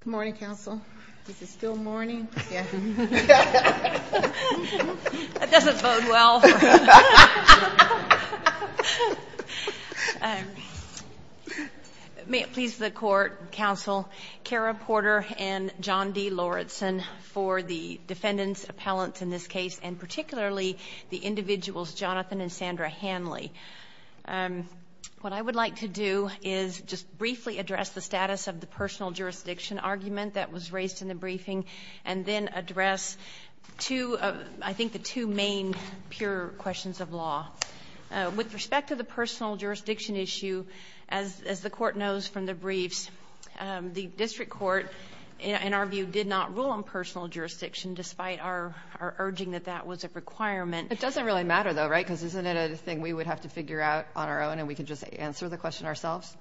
Good morning, Counsel. Is it still morning? Yeah. That doesn't bode well. May it please the Court, Counsel, Kara Porter and John D. Lawrenson for the defendants, appellants in this case, and particularly the individuals Jonathan and Sandra Hanley. What I would like to do is just briefly address the status of the personal jurisdiction argument that was raised in the briefing and then address, I think, the two main pure questions of law. With respect to the personal jurisdiction issue, as the Court knows from the briefs, the District Court, in our view, did not rule on personal jurisdiction despite our urging that that was a requirement. It doesn't really matter, though, right, because isn't it a thing we would have to figure out on our own and we could just answer the question ourselves?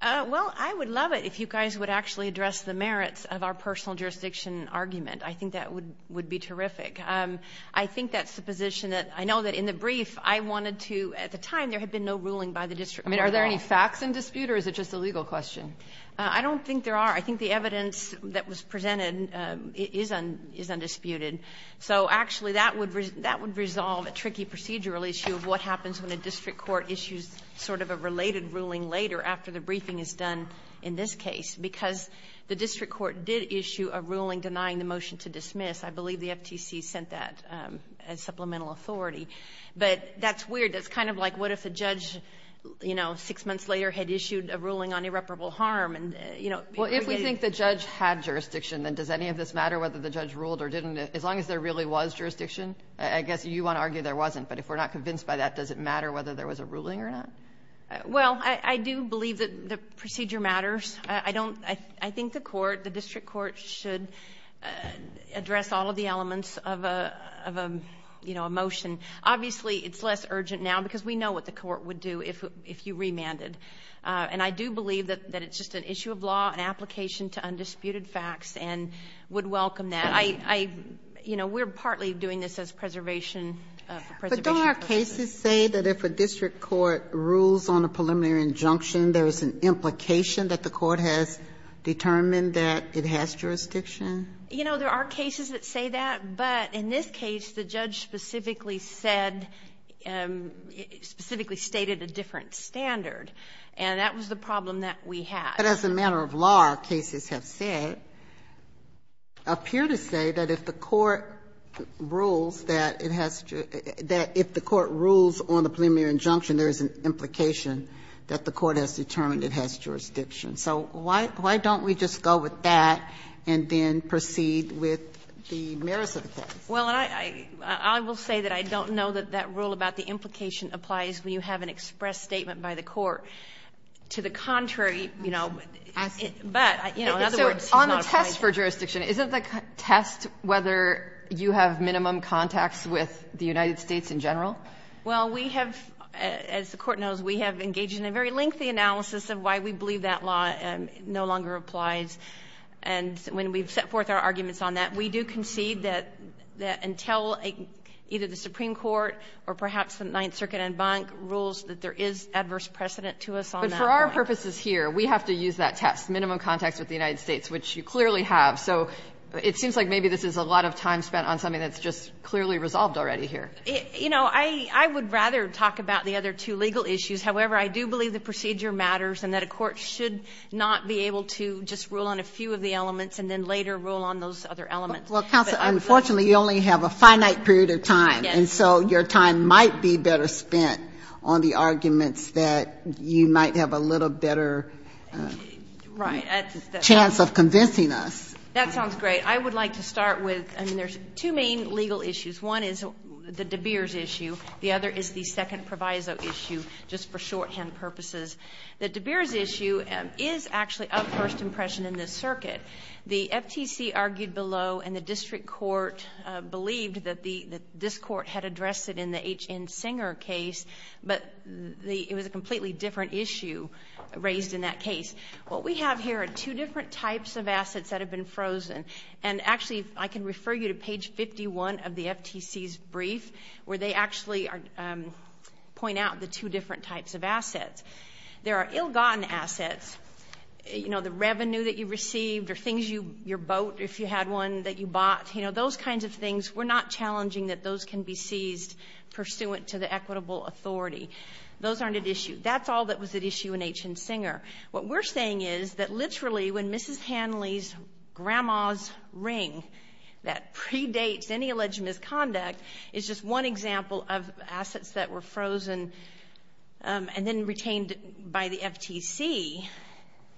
Well, I would love it if you guys would actually address the merits of our personal jurisdiction argument. I think that would be terrific. I think that's the position that I know that in the brief I wanted to at the time there had been no ruling by the District Court. I mean, are there any facts in dispute or is it just a legal question? I don't think there are. I think the evidence that was presented is undisputed. So, actually, that would resolve a tricky procedural issue of what happens when a District Court issues sort of a related ruling later after the briefing is done in this case because the District Court did issue a ruling denying the motion to dismiss. I believe the FTC sent that as supplemental authority. But that's weird. That's kind of like what if a judge, you know, six months later had issued a ruling on irreparable harm and, you know, Well, if we think the judge had jurisdiction, then does any of this matter whether the judge ruled or didn't? As long as there really was jurisdiction, I guess you want to argue there wasn't. But if we're not convinced by that, does it matter whether there was a ruling or not? Well, I do believe that the procedure matters. I think the court, the District Court, should address all of the elements of a motion. Obviously, it's less urgent now because we know what the court would do if you remanded. And I do believe that it's just an issue of law, an application to undisputed facts, and would welcome that. But I, you know, we're partly doing this as preservation. But don't our cases say that if a district court rules on a preliminary injunction, there is an implication that the court has determined that it has jurisdiction? You know, there are cases that say that. But in this case, the judge specifically said, specifically stated a different standard. And that was the problem that we had. But as a matter of law, our cases have said, appear to say that if the court rules that it has to, that if the court rules on a preliminary injunction, there is an implication that the court has determined it has jurisdiction. So why don't we just go with that and then proceed with the merits of the case? Well, and I will say that I don't know that that rule about the implication applies when you have an express statement by the court. To the contrary, you know. But, you know, in other words, it's not a point. So on the test for jurisdiction, isn't the test whether you have minimum contacts with the United States in general? Well, we have, as the Court knows, we have engaged in a very lengthy analysis of why we believe that law no longer applies. And when we've set forth our arguments on that, we do concede that until either the Supreme Court or perhaps the Ninth Circuit and Bank rules that there is adverse precedent to us on that point. But for our purposes here, we have to use that test, minimum contacts with the United States, which you clearly have. So it seems like maybe this is a lot of time spent on something that's just clearly resolved already here. You know, I would rather talk about the other two legal issues. However, I do believe the procedure matters and that a court should not be able to just rule on a few of the elements and then later rule on those other elements. Well, Counsel, unfortunately you only have a finite period of time. Yes. And so your time might be better spent on the arguments that you might have a little better chance of convincing us. That sounds great. I would like to start with, I mean, there's two main legal issues. One is the De Beers issue. The other is the second proviso issue, just for shorthand purposes. The De Beers issue is actually of first impression in this circuit. The FTC argued below and the district court believed that this court had addressed it in the H.N. Singer case, but it was a completely different issue raised in that case. What we have here are two different types of assets that have been frozen. And actually, I can refer you to page 51 of the FTC's brief where they actually point out the two different types of assets. There are ill-gotten assets. You know, the revenue that you received or things you, your boat, if you had one, that you bought, you know, those kinds of things. We're not challenging that those can be seized pursuant to the equitable authority. Those aren't at issue. That's all that was at issue in H.N. Singer. What we're saying is that literally when Mrs. Hanley's grandma's ring that predates any alleged misconduct is just one example of assets that were frozen and then retained by the FTC,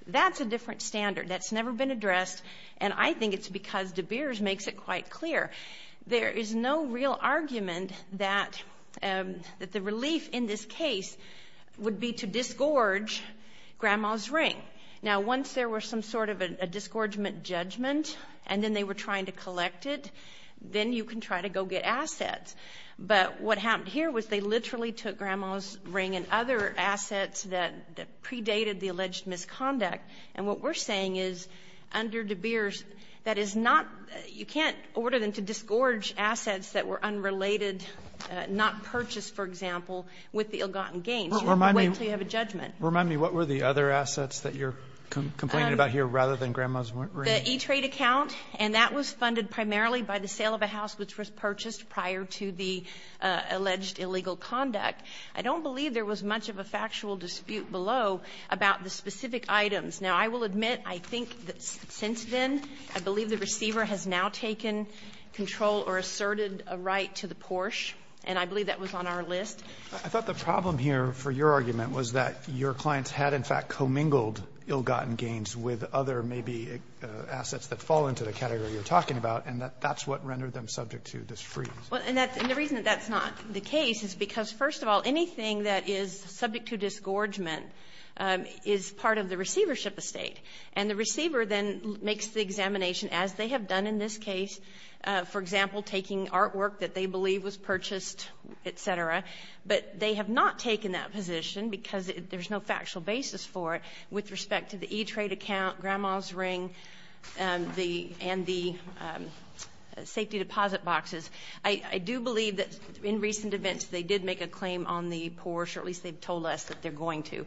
that's a different standard. That's never been addressed, and I think it's because De Beers makes it quite clear. There is no real argument that the relief in this case would be to disgorge grandma's ring. Now, once there was some sort of a disgorgement judgment and then they were trying to collect it, then you can try to go get assets, but what happened here was they literally took grandma's ring and other assets that predated the alleged misconduct, and what we're saying is under De Beers, that is not, you can't order them to disgorge assets that were unrelated, not purchased, for example, with the ill-gotten gains. You have to wait until you have a judgment. Remind me, what were the other assets that you're complaining about here rather than grandma's ring? The E-Trade account, and that was funded primarily by the sale of a house which was purchased prior to the alleged illegal conduct. I don't believe there was much of a factual dispute below about the specific items. Now, I will admit I think that since then, I believe the receiver has now taken control or asserted a right to the Porsche, and I believe that was on our list. I thought the problem here for your argument was that your clients had in fact commingled ill-gotten gains with other maybe assets that fall into the category you're talking about, and that's what rendered them subject to this freeze. Well, and the reason that that's not the case is because, first of all, anything that is subject to disgorgement is part of the receivership estate, and the receiver then makes the examination, as they have done in this case, for example, taking artwork that they believe was purchased, et cetera, but they have not taken that position because there's no factual basis for it with respect to the E-Trade account, Grandma's ring, and the safety deposit boxes. I do believe that in recent events they did make a claim on the Porsche, or at least they've told us that they're going to,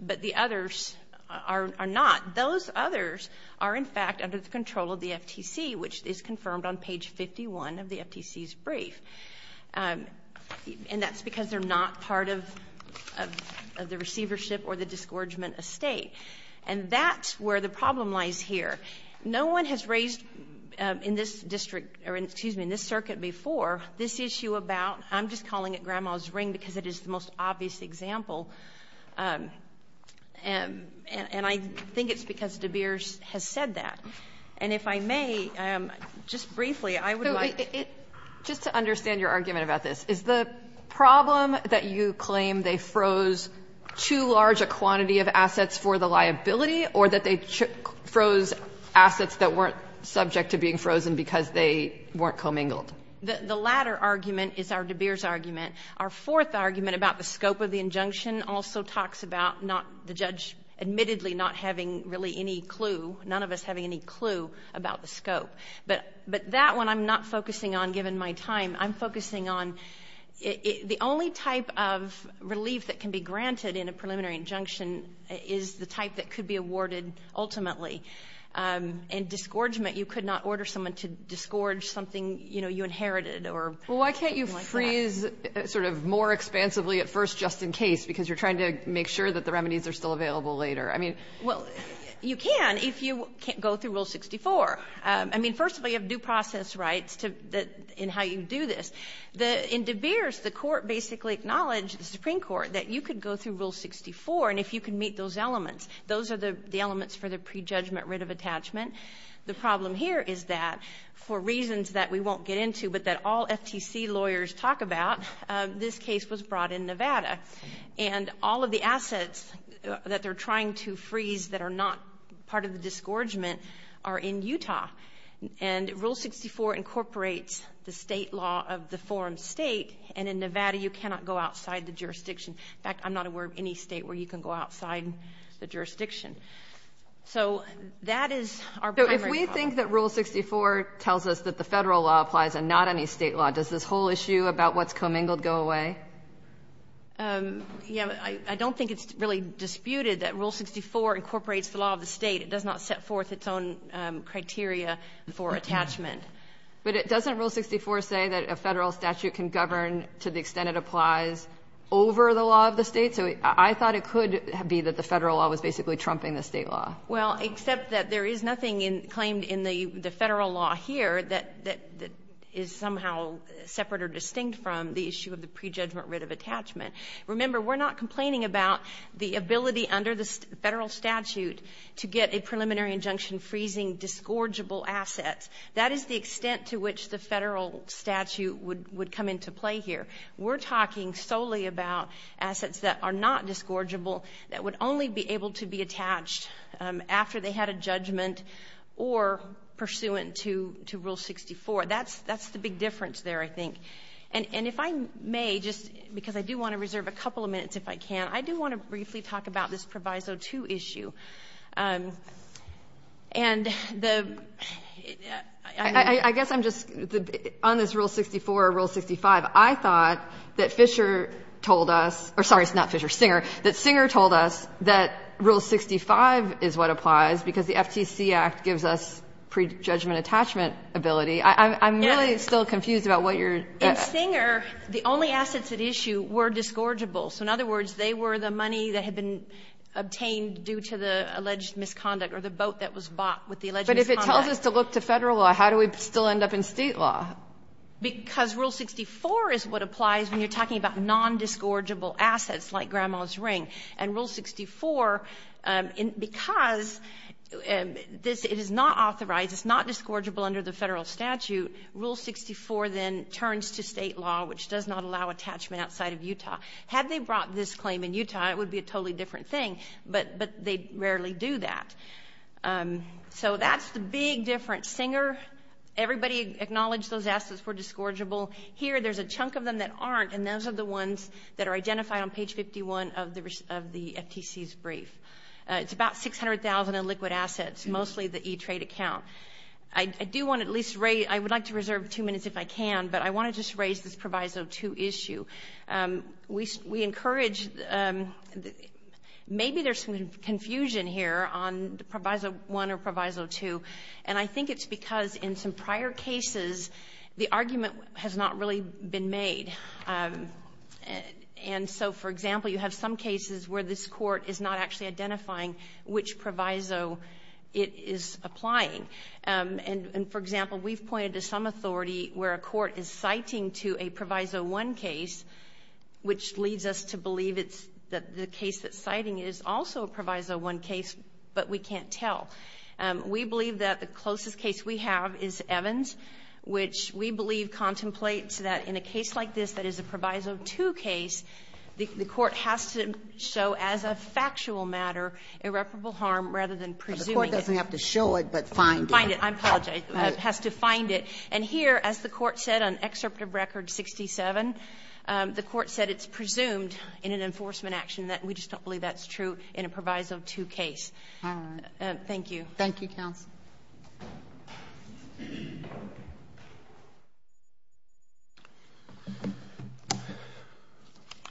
but the others are not. Those others are in fact under the control of the FTC, which is confirmed on page 51 of the FTC's brief, and that's because they're not part of the receivership or the disgorgement estate, and that's where the problem lies here. No one has raised in this circuit before this issue about, I'm just calling it Grandma's ring because it is the most obvious example, and I think it's because De Beers has said that. And if I may, just briefly, I would like to... Just to understand your argument about this, is the problem that you claim they froze too large a quantity of assets for the liability, or that they froze assets that weren't subject to being frozen because they weren't commingled? The latter argument is our De Beers argument. Our fourth argument about the scope of the injunction also talks about the judge admittedly not having really any clue, none of us having any clue about the scope. But that one I'm not focusing on given my time. I'm focusing on the only type of relief that can be granted in a preliminary injunction is the type that could be awarded ultimately. In disgorgement, you could not order someone to disgorge something you inherited. Well, why can't you freeze sort of more expansively at first just in case, because you're trying to make sure that the remedies are still available later? I mean... Well, you can if you go through Rule 64. I mean, first of all, you have due process rights in how you do this. In De Beers, the court basically acknowledged, the Supreme Court, that you could go through Rule 64, and if you could meet those elements. Those are the elements for the prejudgment writ of attachment. The problem here is that for reasons that we won't get into but that all FTC lawyers talk about, this case was brought in Nevada. And all of the assets that they're trying to freeze that are not part of the disgorgement are in Utah. And Rule 64 incorporates the state law of the forum state, and in Nevada you cannot go outside the jurisdiction. In fact, I'm not aware of any state where you can go outside the jurisdiction. So that is our primary problem. So if we think that Rule 64 tells us that the federal law applies and not any state law, does this whole issue about what's commingled go away? Yeah, I don't think it's really disputed that Rule 64 incorporates the law of the state. It does not set forth its own criteria for attachment. But doesn't Rule 64 say that a federal statute can govern to the extent it applies over the law of the state? So I thought it could be that the federal law was basically trumping the state law. Well, except that there is nothing claimed in the federal law here that is somehow separate or distinct from the issue of the prejudgment writ of attachment. Remember, we're not complaining about the ability under the federal statute to get a preliminary injunction freezing disgorgeable assets. That is the extent to which the federal statute would come into play here. We're talking solely about assets that are not disgorgeable, that would only be able to be attached after they had a judgment or pursuant to Rule 64. That's the big difference there, I think. And if I may, just because I do want to reserve a couple of minutes if I can, I do want to briefly talk about this Proviso 2 issue. And the ‑‑ I guess I'm just ‑‑ on this Rule 64 or Rule 65, I thought that Fisher told us, or sorry, not Fisher, Singer, that Singer told us that Rule 65 is what applies because the FTC Act gives us prejudgment attachment ability. I'm really still confused about what you're ‑‑ In Singer, the only assets at issue were disgorgeable. So in other words, they were the money that had been obtained due to the alleged misconduct or the boat that was bought with the alleged misconduct. But if it tells us to look to Federal law, how do we still end up in State law? Because Rule 64 is what applies when you're talking about nondisgorgeable assets like Grandma's Ring. And Rule 64, because this is not authorized, it's not disgorgeable under the Federal statute, Rule 64 then turns to State law, which does not allow attachment outside of Utah. Had they brought this claim in Utah, it would be a totally different thing, but they rarely do that. So that's the big difference. Singer, everybody acknowledged those assets were disgorgeable. Here, there's a chunk of them that aren't, and those are the ones that are identified on page 51 of the FTC's brief. It's about 600,000 illiquid assets, mostly the E-Trade account. I do want to at least ‑‑ I would like to reserve two minutes if I can, but I want to just raise this Proviso 2 issue. We encourage ‑‑ maybe there's some confusion here on Proviso 1 or Proviso 2, and I think it's because in some prior cases, the argument has not really been made. And so, for example, you have some cases where this court is not actually identifying which Proviso it is applying. And, for example, we've pointed to some authority where a court is citing to a which leads us to believe it's the case that's citing is also a Proviso 1 case, but we can't tell. We believe that the closest case we have is Evans, which we believe contemplates that in a case like this that is a Proviso 2 case, the court has to show as a factual matter irreparable harm rather than presuming it. The court doesn't have to show it, but find it. Find it. I apologize. It has to find it. And here, as the court said on Excerpt of Record 67, the court said it's presumed in an enforcement action that we just don't believe that's true in a Proviso 2 case. All right. Thank you. Thank you, counsel.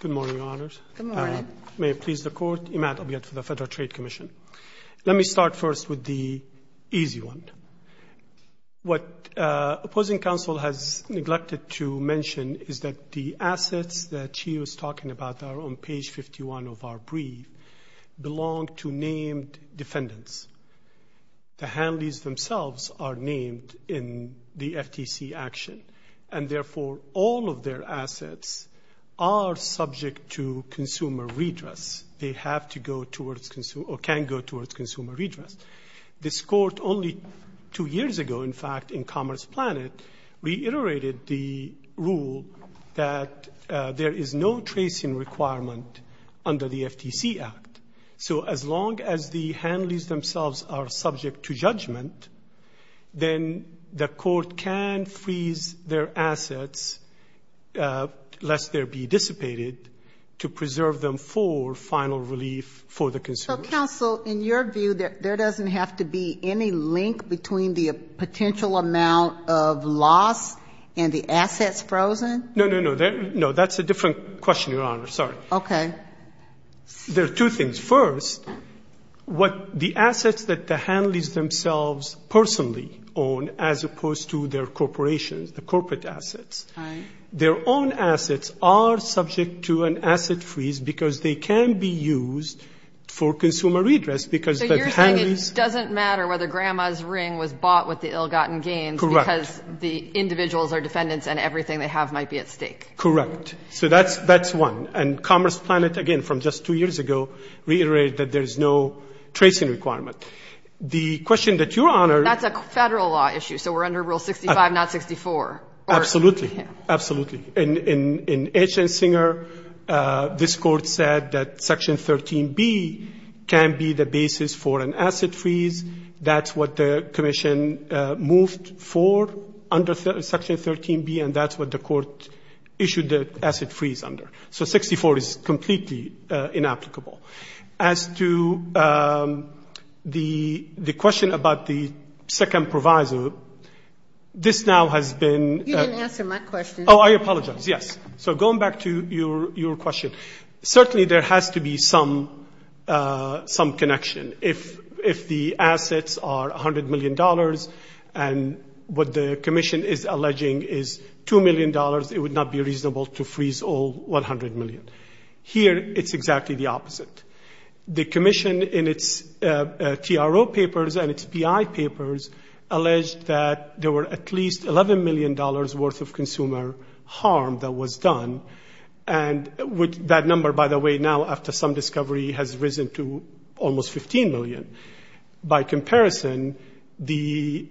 Good morning, Your Honors. Good morning. May it please the Court, Imad Abiyat for the Federal Trade Commission. Let me start first with the easy one. What opposing counsel has neglected to mention is that the assets that she was talking about are on page 51 of our brief belong to named defendants. The Hanley's themselves are named in the FTC action, and therefore all of their assets are subject to consumer redress. They have to go towards or can go towards consumer redress. This court only two years ago, in fact, in Commerce Planet, reiterated the rule that there is no tracing requirement under the FTC Act. So as long as the Hanley's themselves are subject to judgment, then the court can freeze their assets, lest there be dissipated, to preserve them for final relief for the consumer. So, counsel, in your view, there doesn't have to be any link between the potential amount of loss and the assets frozen? No, no, no. That's a different question, Your Honor. Sorry. Okay. There are two things. First, what the assets that the Hanley's themselves personally own, as opposed to their corporations, the corporate assets, their own assets are subject to an consumer redress, because the Hanley's... So you're saying it doesn't matter whether grandma's ring was bought with the ill-gotten gains... Correct. ...because the individuals or defendants and everything they have might be at stake? Correct. So that's one. And Commerce Planet, again, from just two years ago, reiterated that there is no tracing requirement. The question that Your Honor... That's a Federal law issue, so we're under Rule 65, not 64. Absolutely. Absolutely. In Etch-a-Singer, this court said that Section 13B can be the basis for an asset freeze. That's what the commission moved for under Section 13B, and that's what the court issued the asset freeze under. So 64 is completely inapplicable. As to the question about the second proviso, this now has been... You didn't answer my question. Oh, I apologize. Yes. So going back to your question, certainly there has to be some connection. If the assets are $100 million and what the commission is alleging is $2 million, it would not be reasonable to freeze all $100 million. Here, it's exactly the opposite. The commission, in its TRO papers and its PI papers, alleged that there were at least $11 million worth of consumer harm that was done. And that number, by the way, now after some discovery has risen to almost $15 million. By comparison, the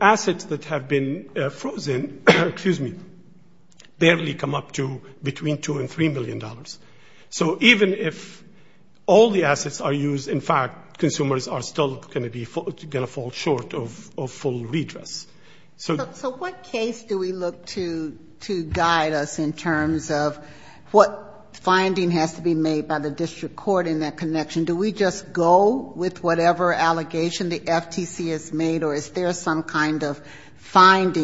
assets that have been frozen, excuse me, barely come up to between $2 and $3 million. So even if all the assets are used, in fact, consumers are still going to fall short of full redress. So what case do we look to guide us in terms of what finding has to be made by the district court in that connection? Do we just go with whatever allegation the FTC has made, or is there some kind of guidance?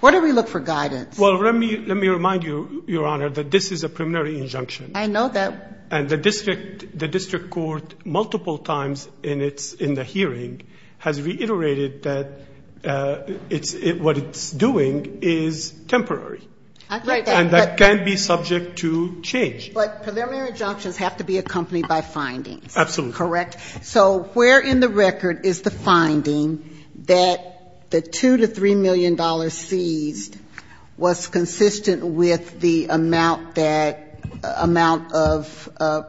What do we look for guidance? Well, let me remind you, Your Honor, that this is a preliminary injunction. I know that. And the district court multiple times in the hearing has reiterated that what it's doing is temporary. And that can be subject to change. But preliminary injunctions have to be accompanied by findings. Absolutely. Correct? So where in the record is the finding that the $2 to $3 million seized was consistent with the amount that amount of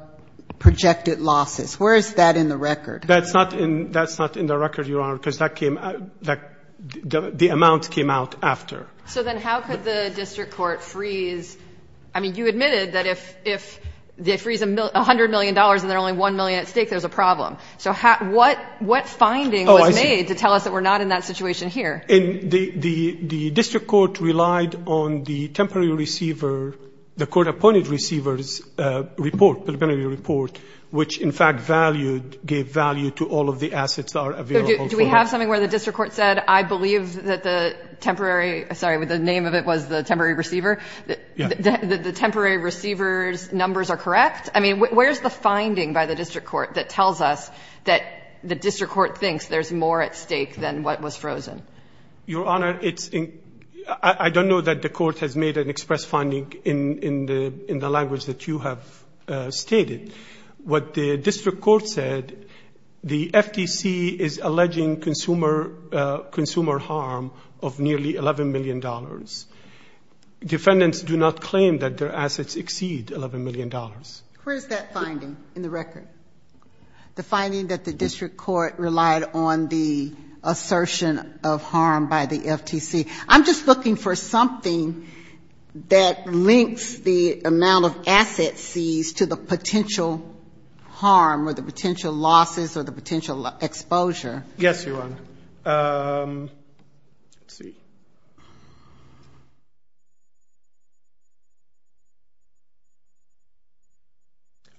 projected losses? Where is that in the record? That's not in the record, Your Honor, because that came the amount came out after. So then how could the district court freeze? I mean, you admitted that if they freeze $100 million and there's only $1 million at stake, there's a problem. So what finding was made to tell us that we're not in that situation here? The district court relied on the temporary receiver, the court-appointed receiver's report, preliminary report, which, in fact, valued, gave value to all of the assets that are available. Do we have something where the district court said, I believe that the temporary — sorry, the name of it was the temporary receiver? Yeah. The temporary receiver's numbers are correct? I mean, where's the finding by the district court that tells us that the district court thinks there's more at stake than what was frozen? Your Honor, it's — I don't know that the court has made an express finding in the language that you have stated. What the district court said, the FTC is alleging consumer harm of nearly $11 million. Defendants do not claim that their assets exceed $11 million. Where's that finding in the record? The finding that the district court relied on the assertion of harm by the FTC. I'm just looking for something that links the amount of assets seized to the potential harm or the potential losses or the potential exposure. Yes, Your Honor.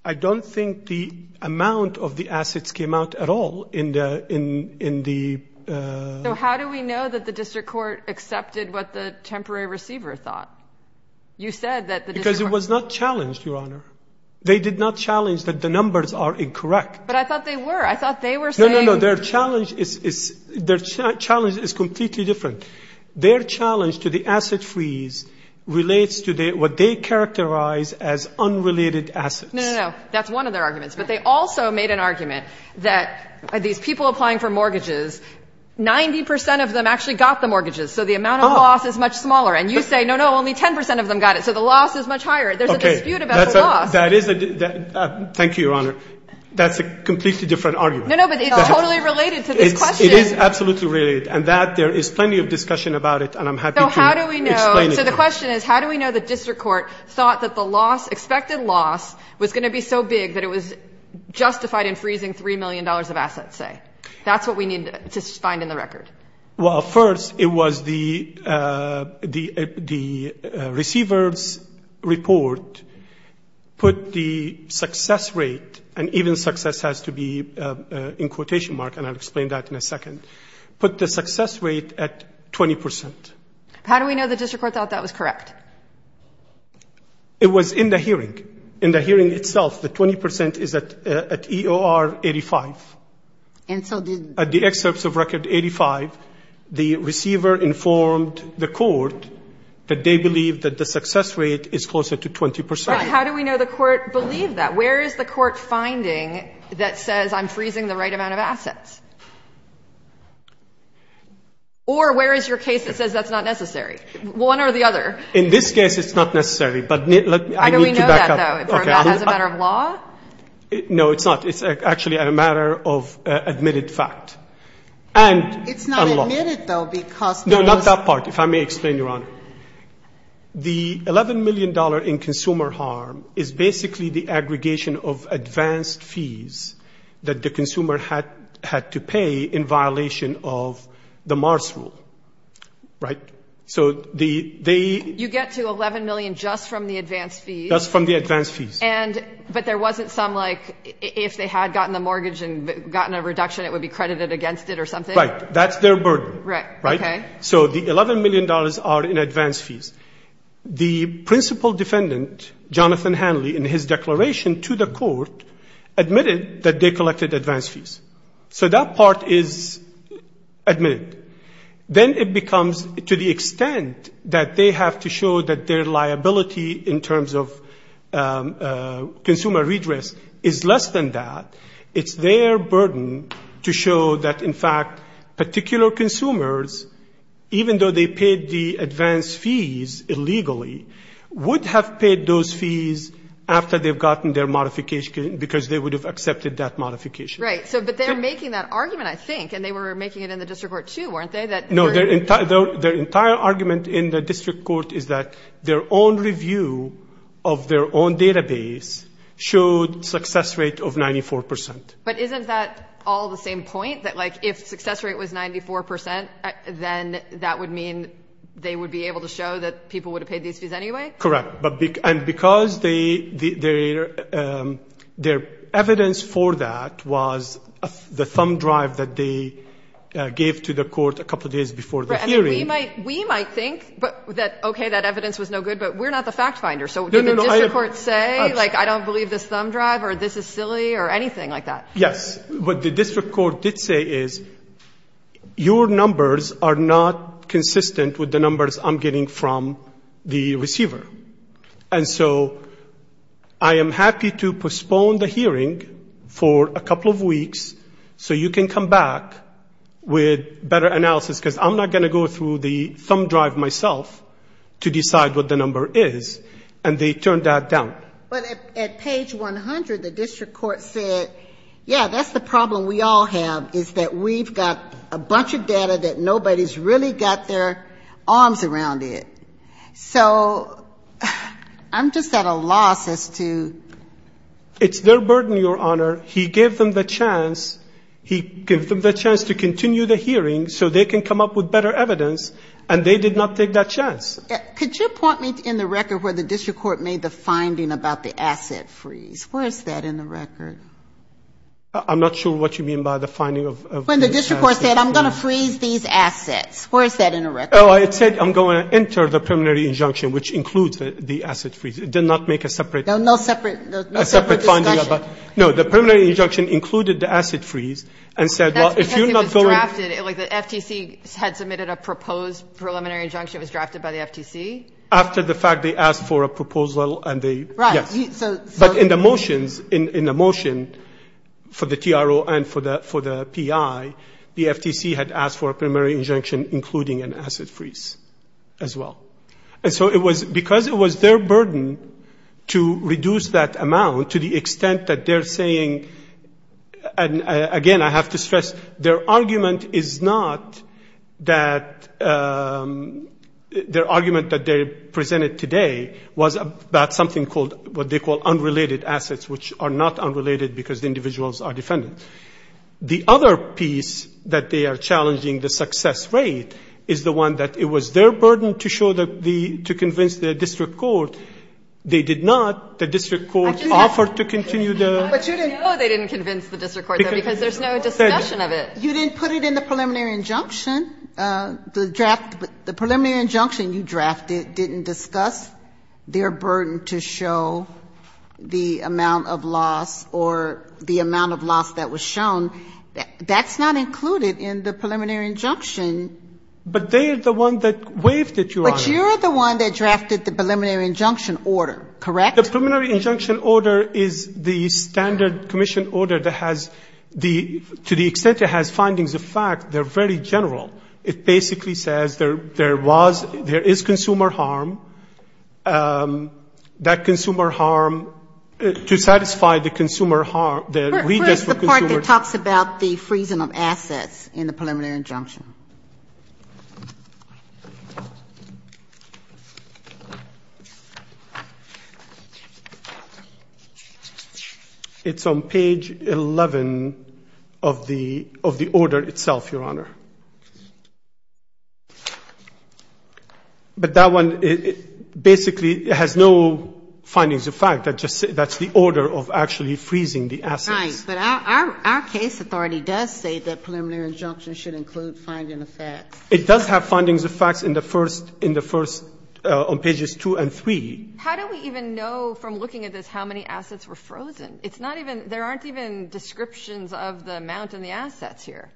I don't think the amount of the assets came out at all in the — So how do we know that the district court accepted what the temporary receiver thought? You said that the district court — Because it was not challenged, Your Honor. They did not challenge that the numbers are incorrect. But I thought they were. I thought they were saying — No, no, no. Their challenge is — their challenge is completely different. Their challenge to the asset freeze relates to what they characterize as unrelated assets. No, no, no. That's one of their arguments. But they also made an argument that these people applying for mortgages, 90 percent of them actually got the mortgages, so the amount of loss is much smaller. And you say, no, no, only 10 percent of them got it, so the loss is much higher. There's a dispute about the loss. Thank you, Your Honor. That's a completely different argument. No, no, but it's totally related to this question. It is absolutely related. And that — there is plenty of discussion about it, and I'm happy to explain it. So how do we know — so the question is, how do we know the district court thought that the loss, expected loss, was going to be so big that it was justified in freezing $3 million of assets, say? That's what we need to find in the record. Well, first, it was the receiver's report put the success rate — and even success has to be in quotation marks, and I'll explain that in a second — put the success rate at 20 percent. How do we know the district court thought that was correct? It was in the hearing. In the hearing itself, the 20 percent is at EOR 85. And so did — at the excerpts of record 85, the receiver informed the court that they believe that the success rate is closer to 20 percent. Right. How do we know the court believed that? Where is the court finding that says, I'm freezing the right amount of assets? Or where is your case that says that's not necessary? One or the other. In this case, it's not necessary. But let me — How do we know that, though, as a matter of law? No, it's not. It's actually a matter of admitted fact. And — It's not admitted, though, because — No, not that part, if I may explain, Your Honor. The $11 million in consumer harm is basically the aggregation of advanced fees that the consumer had to pay in violation of the Mars rule. Right? So the — You get to $11 million just from the advanced fees. Just from the advanced fees. And — But there wasn't some, like, if they had gotten the mortgage and gotten a reduction, it would be credited against it or something? Right. That's their burden. Right. Right? Okay. So the $11 million are in advanced fees. The principal defendant, Jonathan Hanley, in his declaration to the court, admitted that they collected advanced fees. So that part is admitted. Then it becomes, to the extent that they have to show that their liability in terms of consumer redress is less than that, it's their burden to show that, in fact, particular consumers, even though they paid the advanced fees illegally, would have paid those fees after they've gotten their modification, because they would have accepted that modification. Right. Right. But they're making that argument, I think, and they were making it in the district court, too, weren't they? No. Their entire argument in the district court is that their own review of their own database showed success rate of 94%. But isn't that all the same point? That, like, if success rate was 94%, then that would mean they would be able to show that people would have paid these fees anyway? Correct. Right. And because their evidence for that was the thumb drive that they gave to the court a couple days before the hearing. Right. I mean, we might think that, okay, that evidence was no good, but we're not the fact finder. So did the district court say, like, I don't believe this thumb drive or this is silly or anything like that? Yes. What the district court did say is, your numbers are not consistent with the numbers I'm getting from the receiver. And so I am happy to postpone the hearing for a couple of weeks so you can come back with better analysis, because I'm not going to go through the thumb drive myself to decide what the number is. And they turned that down. But at page 100, the district court said, yeah, that's the problem we all have, is that we've got a bunch of data that nobody's really got their arms around it. So I'm just at a loss as to ‑‑ It's their burden, Your Honor. He gave them the chance. He gave them the chance to continue the hearing so they can come up with better evidence, and they did not take that chance. Could you point me in the record where the district court made the finding about the asset freeze? Where is that in the record? I'm not sure what you mean by the finding of the asset freeze. When the district court said, I'm going to freeze these assets. Where is that in the record? It said, I'm going to enter the preliminary injunction, which includes the asset freeze. It did not make a separate ‑‑ No, no separate discussion. No, the preliminary injunction included the asset freeze and said, well, if you're not going to ‑‑ That's because it was drafted. The FTC had submitted a proposed preliminary injunction. It was drafted by the FTC. After the fact, they asked for a proposed ‑‑ Right. Yes. But in the motions, in the motion for the TRO and for the PI, the FTC had asked for the asset freeze as well. And so it was ‑‑ because it was their burden to reduce that amount to the extent that they're saying, again, I have to stress, their argument is not that ‑‑ their argument that they presented today was about something called ‑‑ what they call unrelated assets, which are not unrelated because the individuals are defendants. The other piece that they are challenging, the success rate, is the one that it was their burden to show the ‑‑ to convince the district court. They did not. The district court offered to continue the ‑‑ But you didn't ‑‑ No, they didn't convince the district court, though, because there's no discussion of it. You didn't put it in the preliminary injunction. The draft ‑‑ the preliminary injunction you drafted didn't discuss their burden to show the amount of loss or the amount of loss that was shown. That's not included in the preliminary injunction. But they are the one that waived it, Your Honor. But you're the one that drafted the preliminary injunction order, correct? The preliminary injunction order is the standard commission order that has the ‑‑ to the extent it has findings of fact, they're very general. It basically says there was ‑‑ there is consumer harm. That consumer harm, to satisfy the consumer harm, the ‑‑ Where is the part that talks about the freezing of assets in the preliminary injunction? It's on page 11 of the ‑‑ of the order itself, Your Honor. But that one basically has no findings of fact. That just ‑‑ that's the order of actually freezing the assets. Right. But our case authority does say that preliminary injunction should include findings of fact. It does have findings of fact in the first ‑‑ in the first ‑‑ on pages 2 and 3. How do we even know from looking at this how many assets were frozen? It's not even ‑‑ there aren't even descriptions of the amount in the assets here.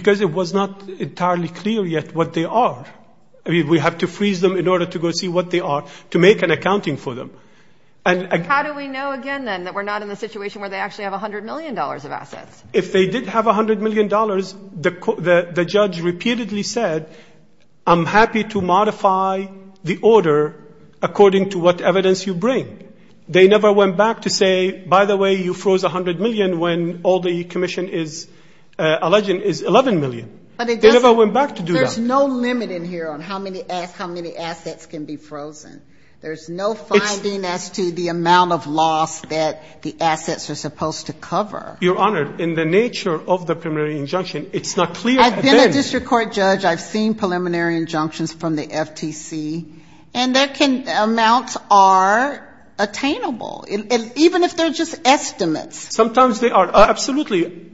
Because it was not entirely clear yet what they are. I mean, we have to freeze them in order to go see what they are to make an accounting for them. And again ‑‑ How do we know, again, then, that we're not in the situation where they actually have $100 million of assets? If they did have $100 million, the judge repeatedly said, I'm happy to modify the order according to what evidence you bring. They never went back to say, by the way, you froze $100 million when all the commission is alleging is $11 million. They never went back to do that. There's no limit in here on how many assets can be frozen. There's no finding as to the amount of loss that the assets are supposed to cover. Your Honor, in the nature of the preliminary injunction, it's not clear. I've been a district court judge. I've seen preliminary injunctions from the FTC. And amounts are attainable, even if they're just estimates. Sometimes they are. Absolutely.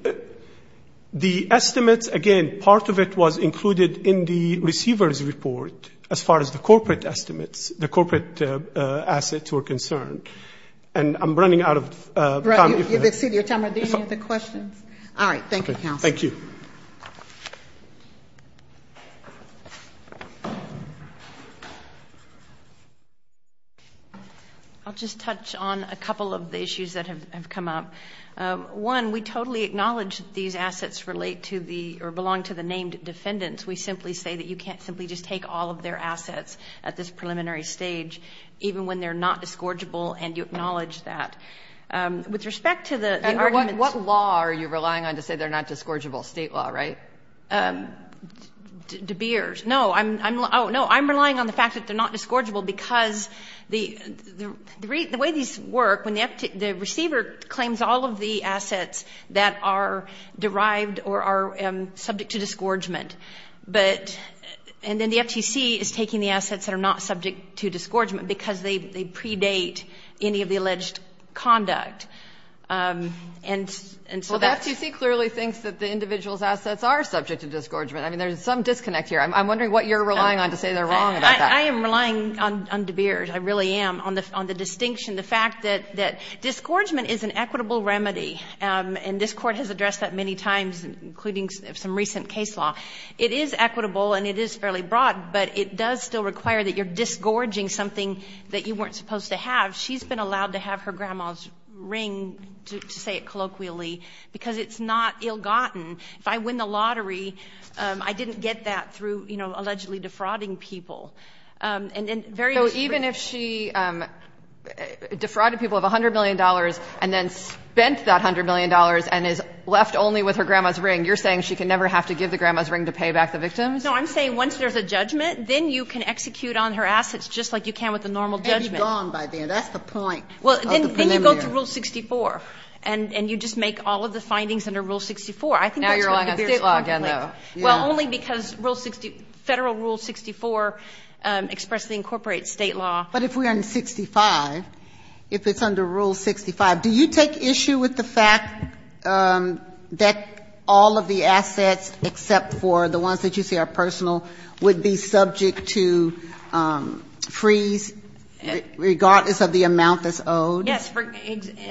The estimates, again, part of it was included in the receiver's report, as far as the corporate estimates, the corporate assets were concerned. And I'm running out of time. You've exceeded your time. Are there any other questions? All right. Thank you, counsel. Thank you. I'll just touch on a couple of the issues that have come up. One, we totally acknowledge these assets relate to the or belong to the named defendants. We simply say that you can't simply just take all of their assets at this preliminary stage, even when they're not disgorgeable, and you acknowledge that. With respect to the arguments. And what law are you relying on to say they're not disgorgeable? State law, right? De Beers. No. Oh, no. I'm relying on the fact that they're not disgorgeable because the way these work, when the receiver claims all of the assets that are derived or are subject to disgorgement, and then the FTC is taking the assets that are not subject to disgorgement because they predate any of the alleged conduct. Well, the FTC clearly thinks that the individual's assets are subject to disgorgement. I mean, there's some disconnect here. I'm wondering what you're relying on to say they're wrong about that. I am relying on De Beers. I really am. I'm relying on the distinction, the fact that disgorgement is an equitable remedy, and this Court has addressed that many times, including some recent case law. It is equitable and it is fairly broad, but it does still require that you're disgorging something that you weren't supposed to have. She's been allowed to have her grandma's ring, to say it colloquially, because it's not ill-gotten. If I win the lottery, I didn't get that through allegedly defrauding people. And then various reasons. So even if she defrauded people of $100 million and then spent that $100 million and is left only with her grandma's ring, you're saying she can never have to give the grandma's ring to pay back the victims? No. I'm saying once there's a judgment, then you can execute on her assets just like you can with a normal judgment. It's gone by then. That's the point of the preliminary. Well, then you go through Rule 64, and you just make all of the findings under Rule 64. I think that's going to be a conflict. Now you're relying on State law again, though. Yeah. Not only because Federal Rule 64 expressly incorporates State law. But if we're in 65, if it's under Rule 65, do you take issue with the fact that all of the assets except for the ones that you say are personal would be subject to freeze regardless of the amount that's owed? Yes.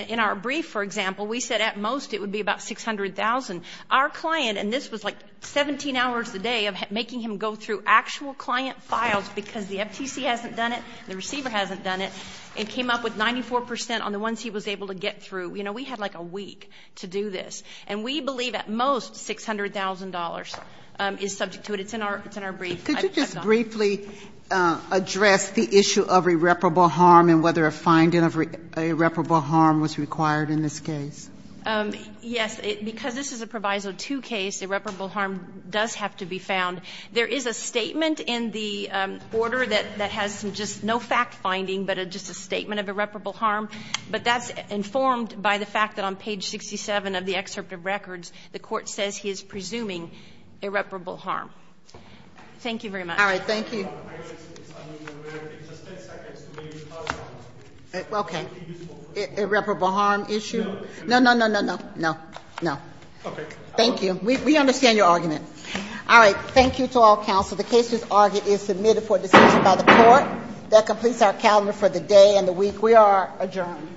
In our brief, for example, we said at most it would be about $600,000. Our client, and this was like 17 hours a day of making him go through actual client files because the FTC hasn't done it, the receiver hasn't done it, and came up with 94 percent on the ones he was able to get through. You know, we had like a week to do this. And we believe at most $600,000 is subject to it. It's in our brief. Could you just briefly address the issue of irreparable harm and whether a finding of irreparable harm was required in this case? Yes. Because this is a Proviso 2 case, irreparable harm does have to be found. There is a statement in the order that has just no fact-finding, but just a statement of irreparable harm, but that's informed by the fact that on page 67 of the excerpt of records, the Court says he is presuming irreparable harm. Thank you very much. All right. Thank you. Okay. Irreparable harm issue? No, no, no, no, no, no, no. Okay. Thank you. We understand your argument. All right. Thank you to all counsel. The case is submitted for discussion by the Court. That completes our calendar for the day and the week. We are adjourned.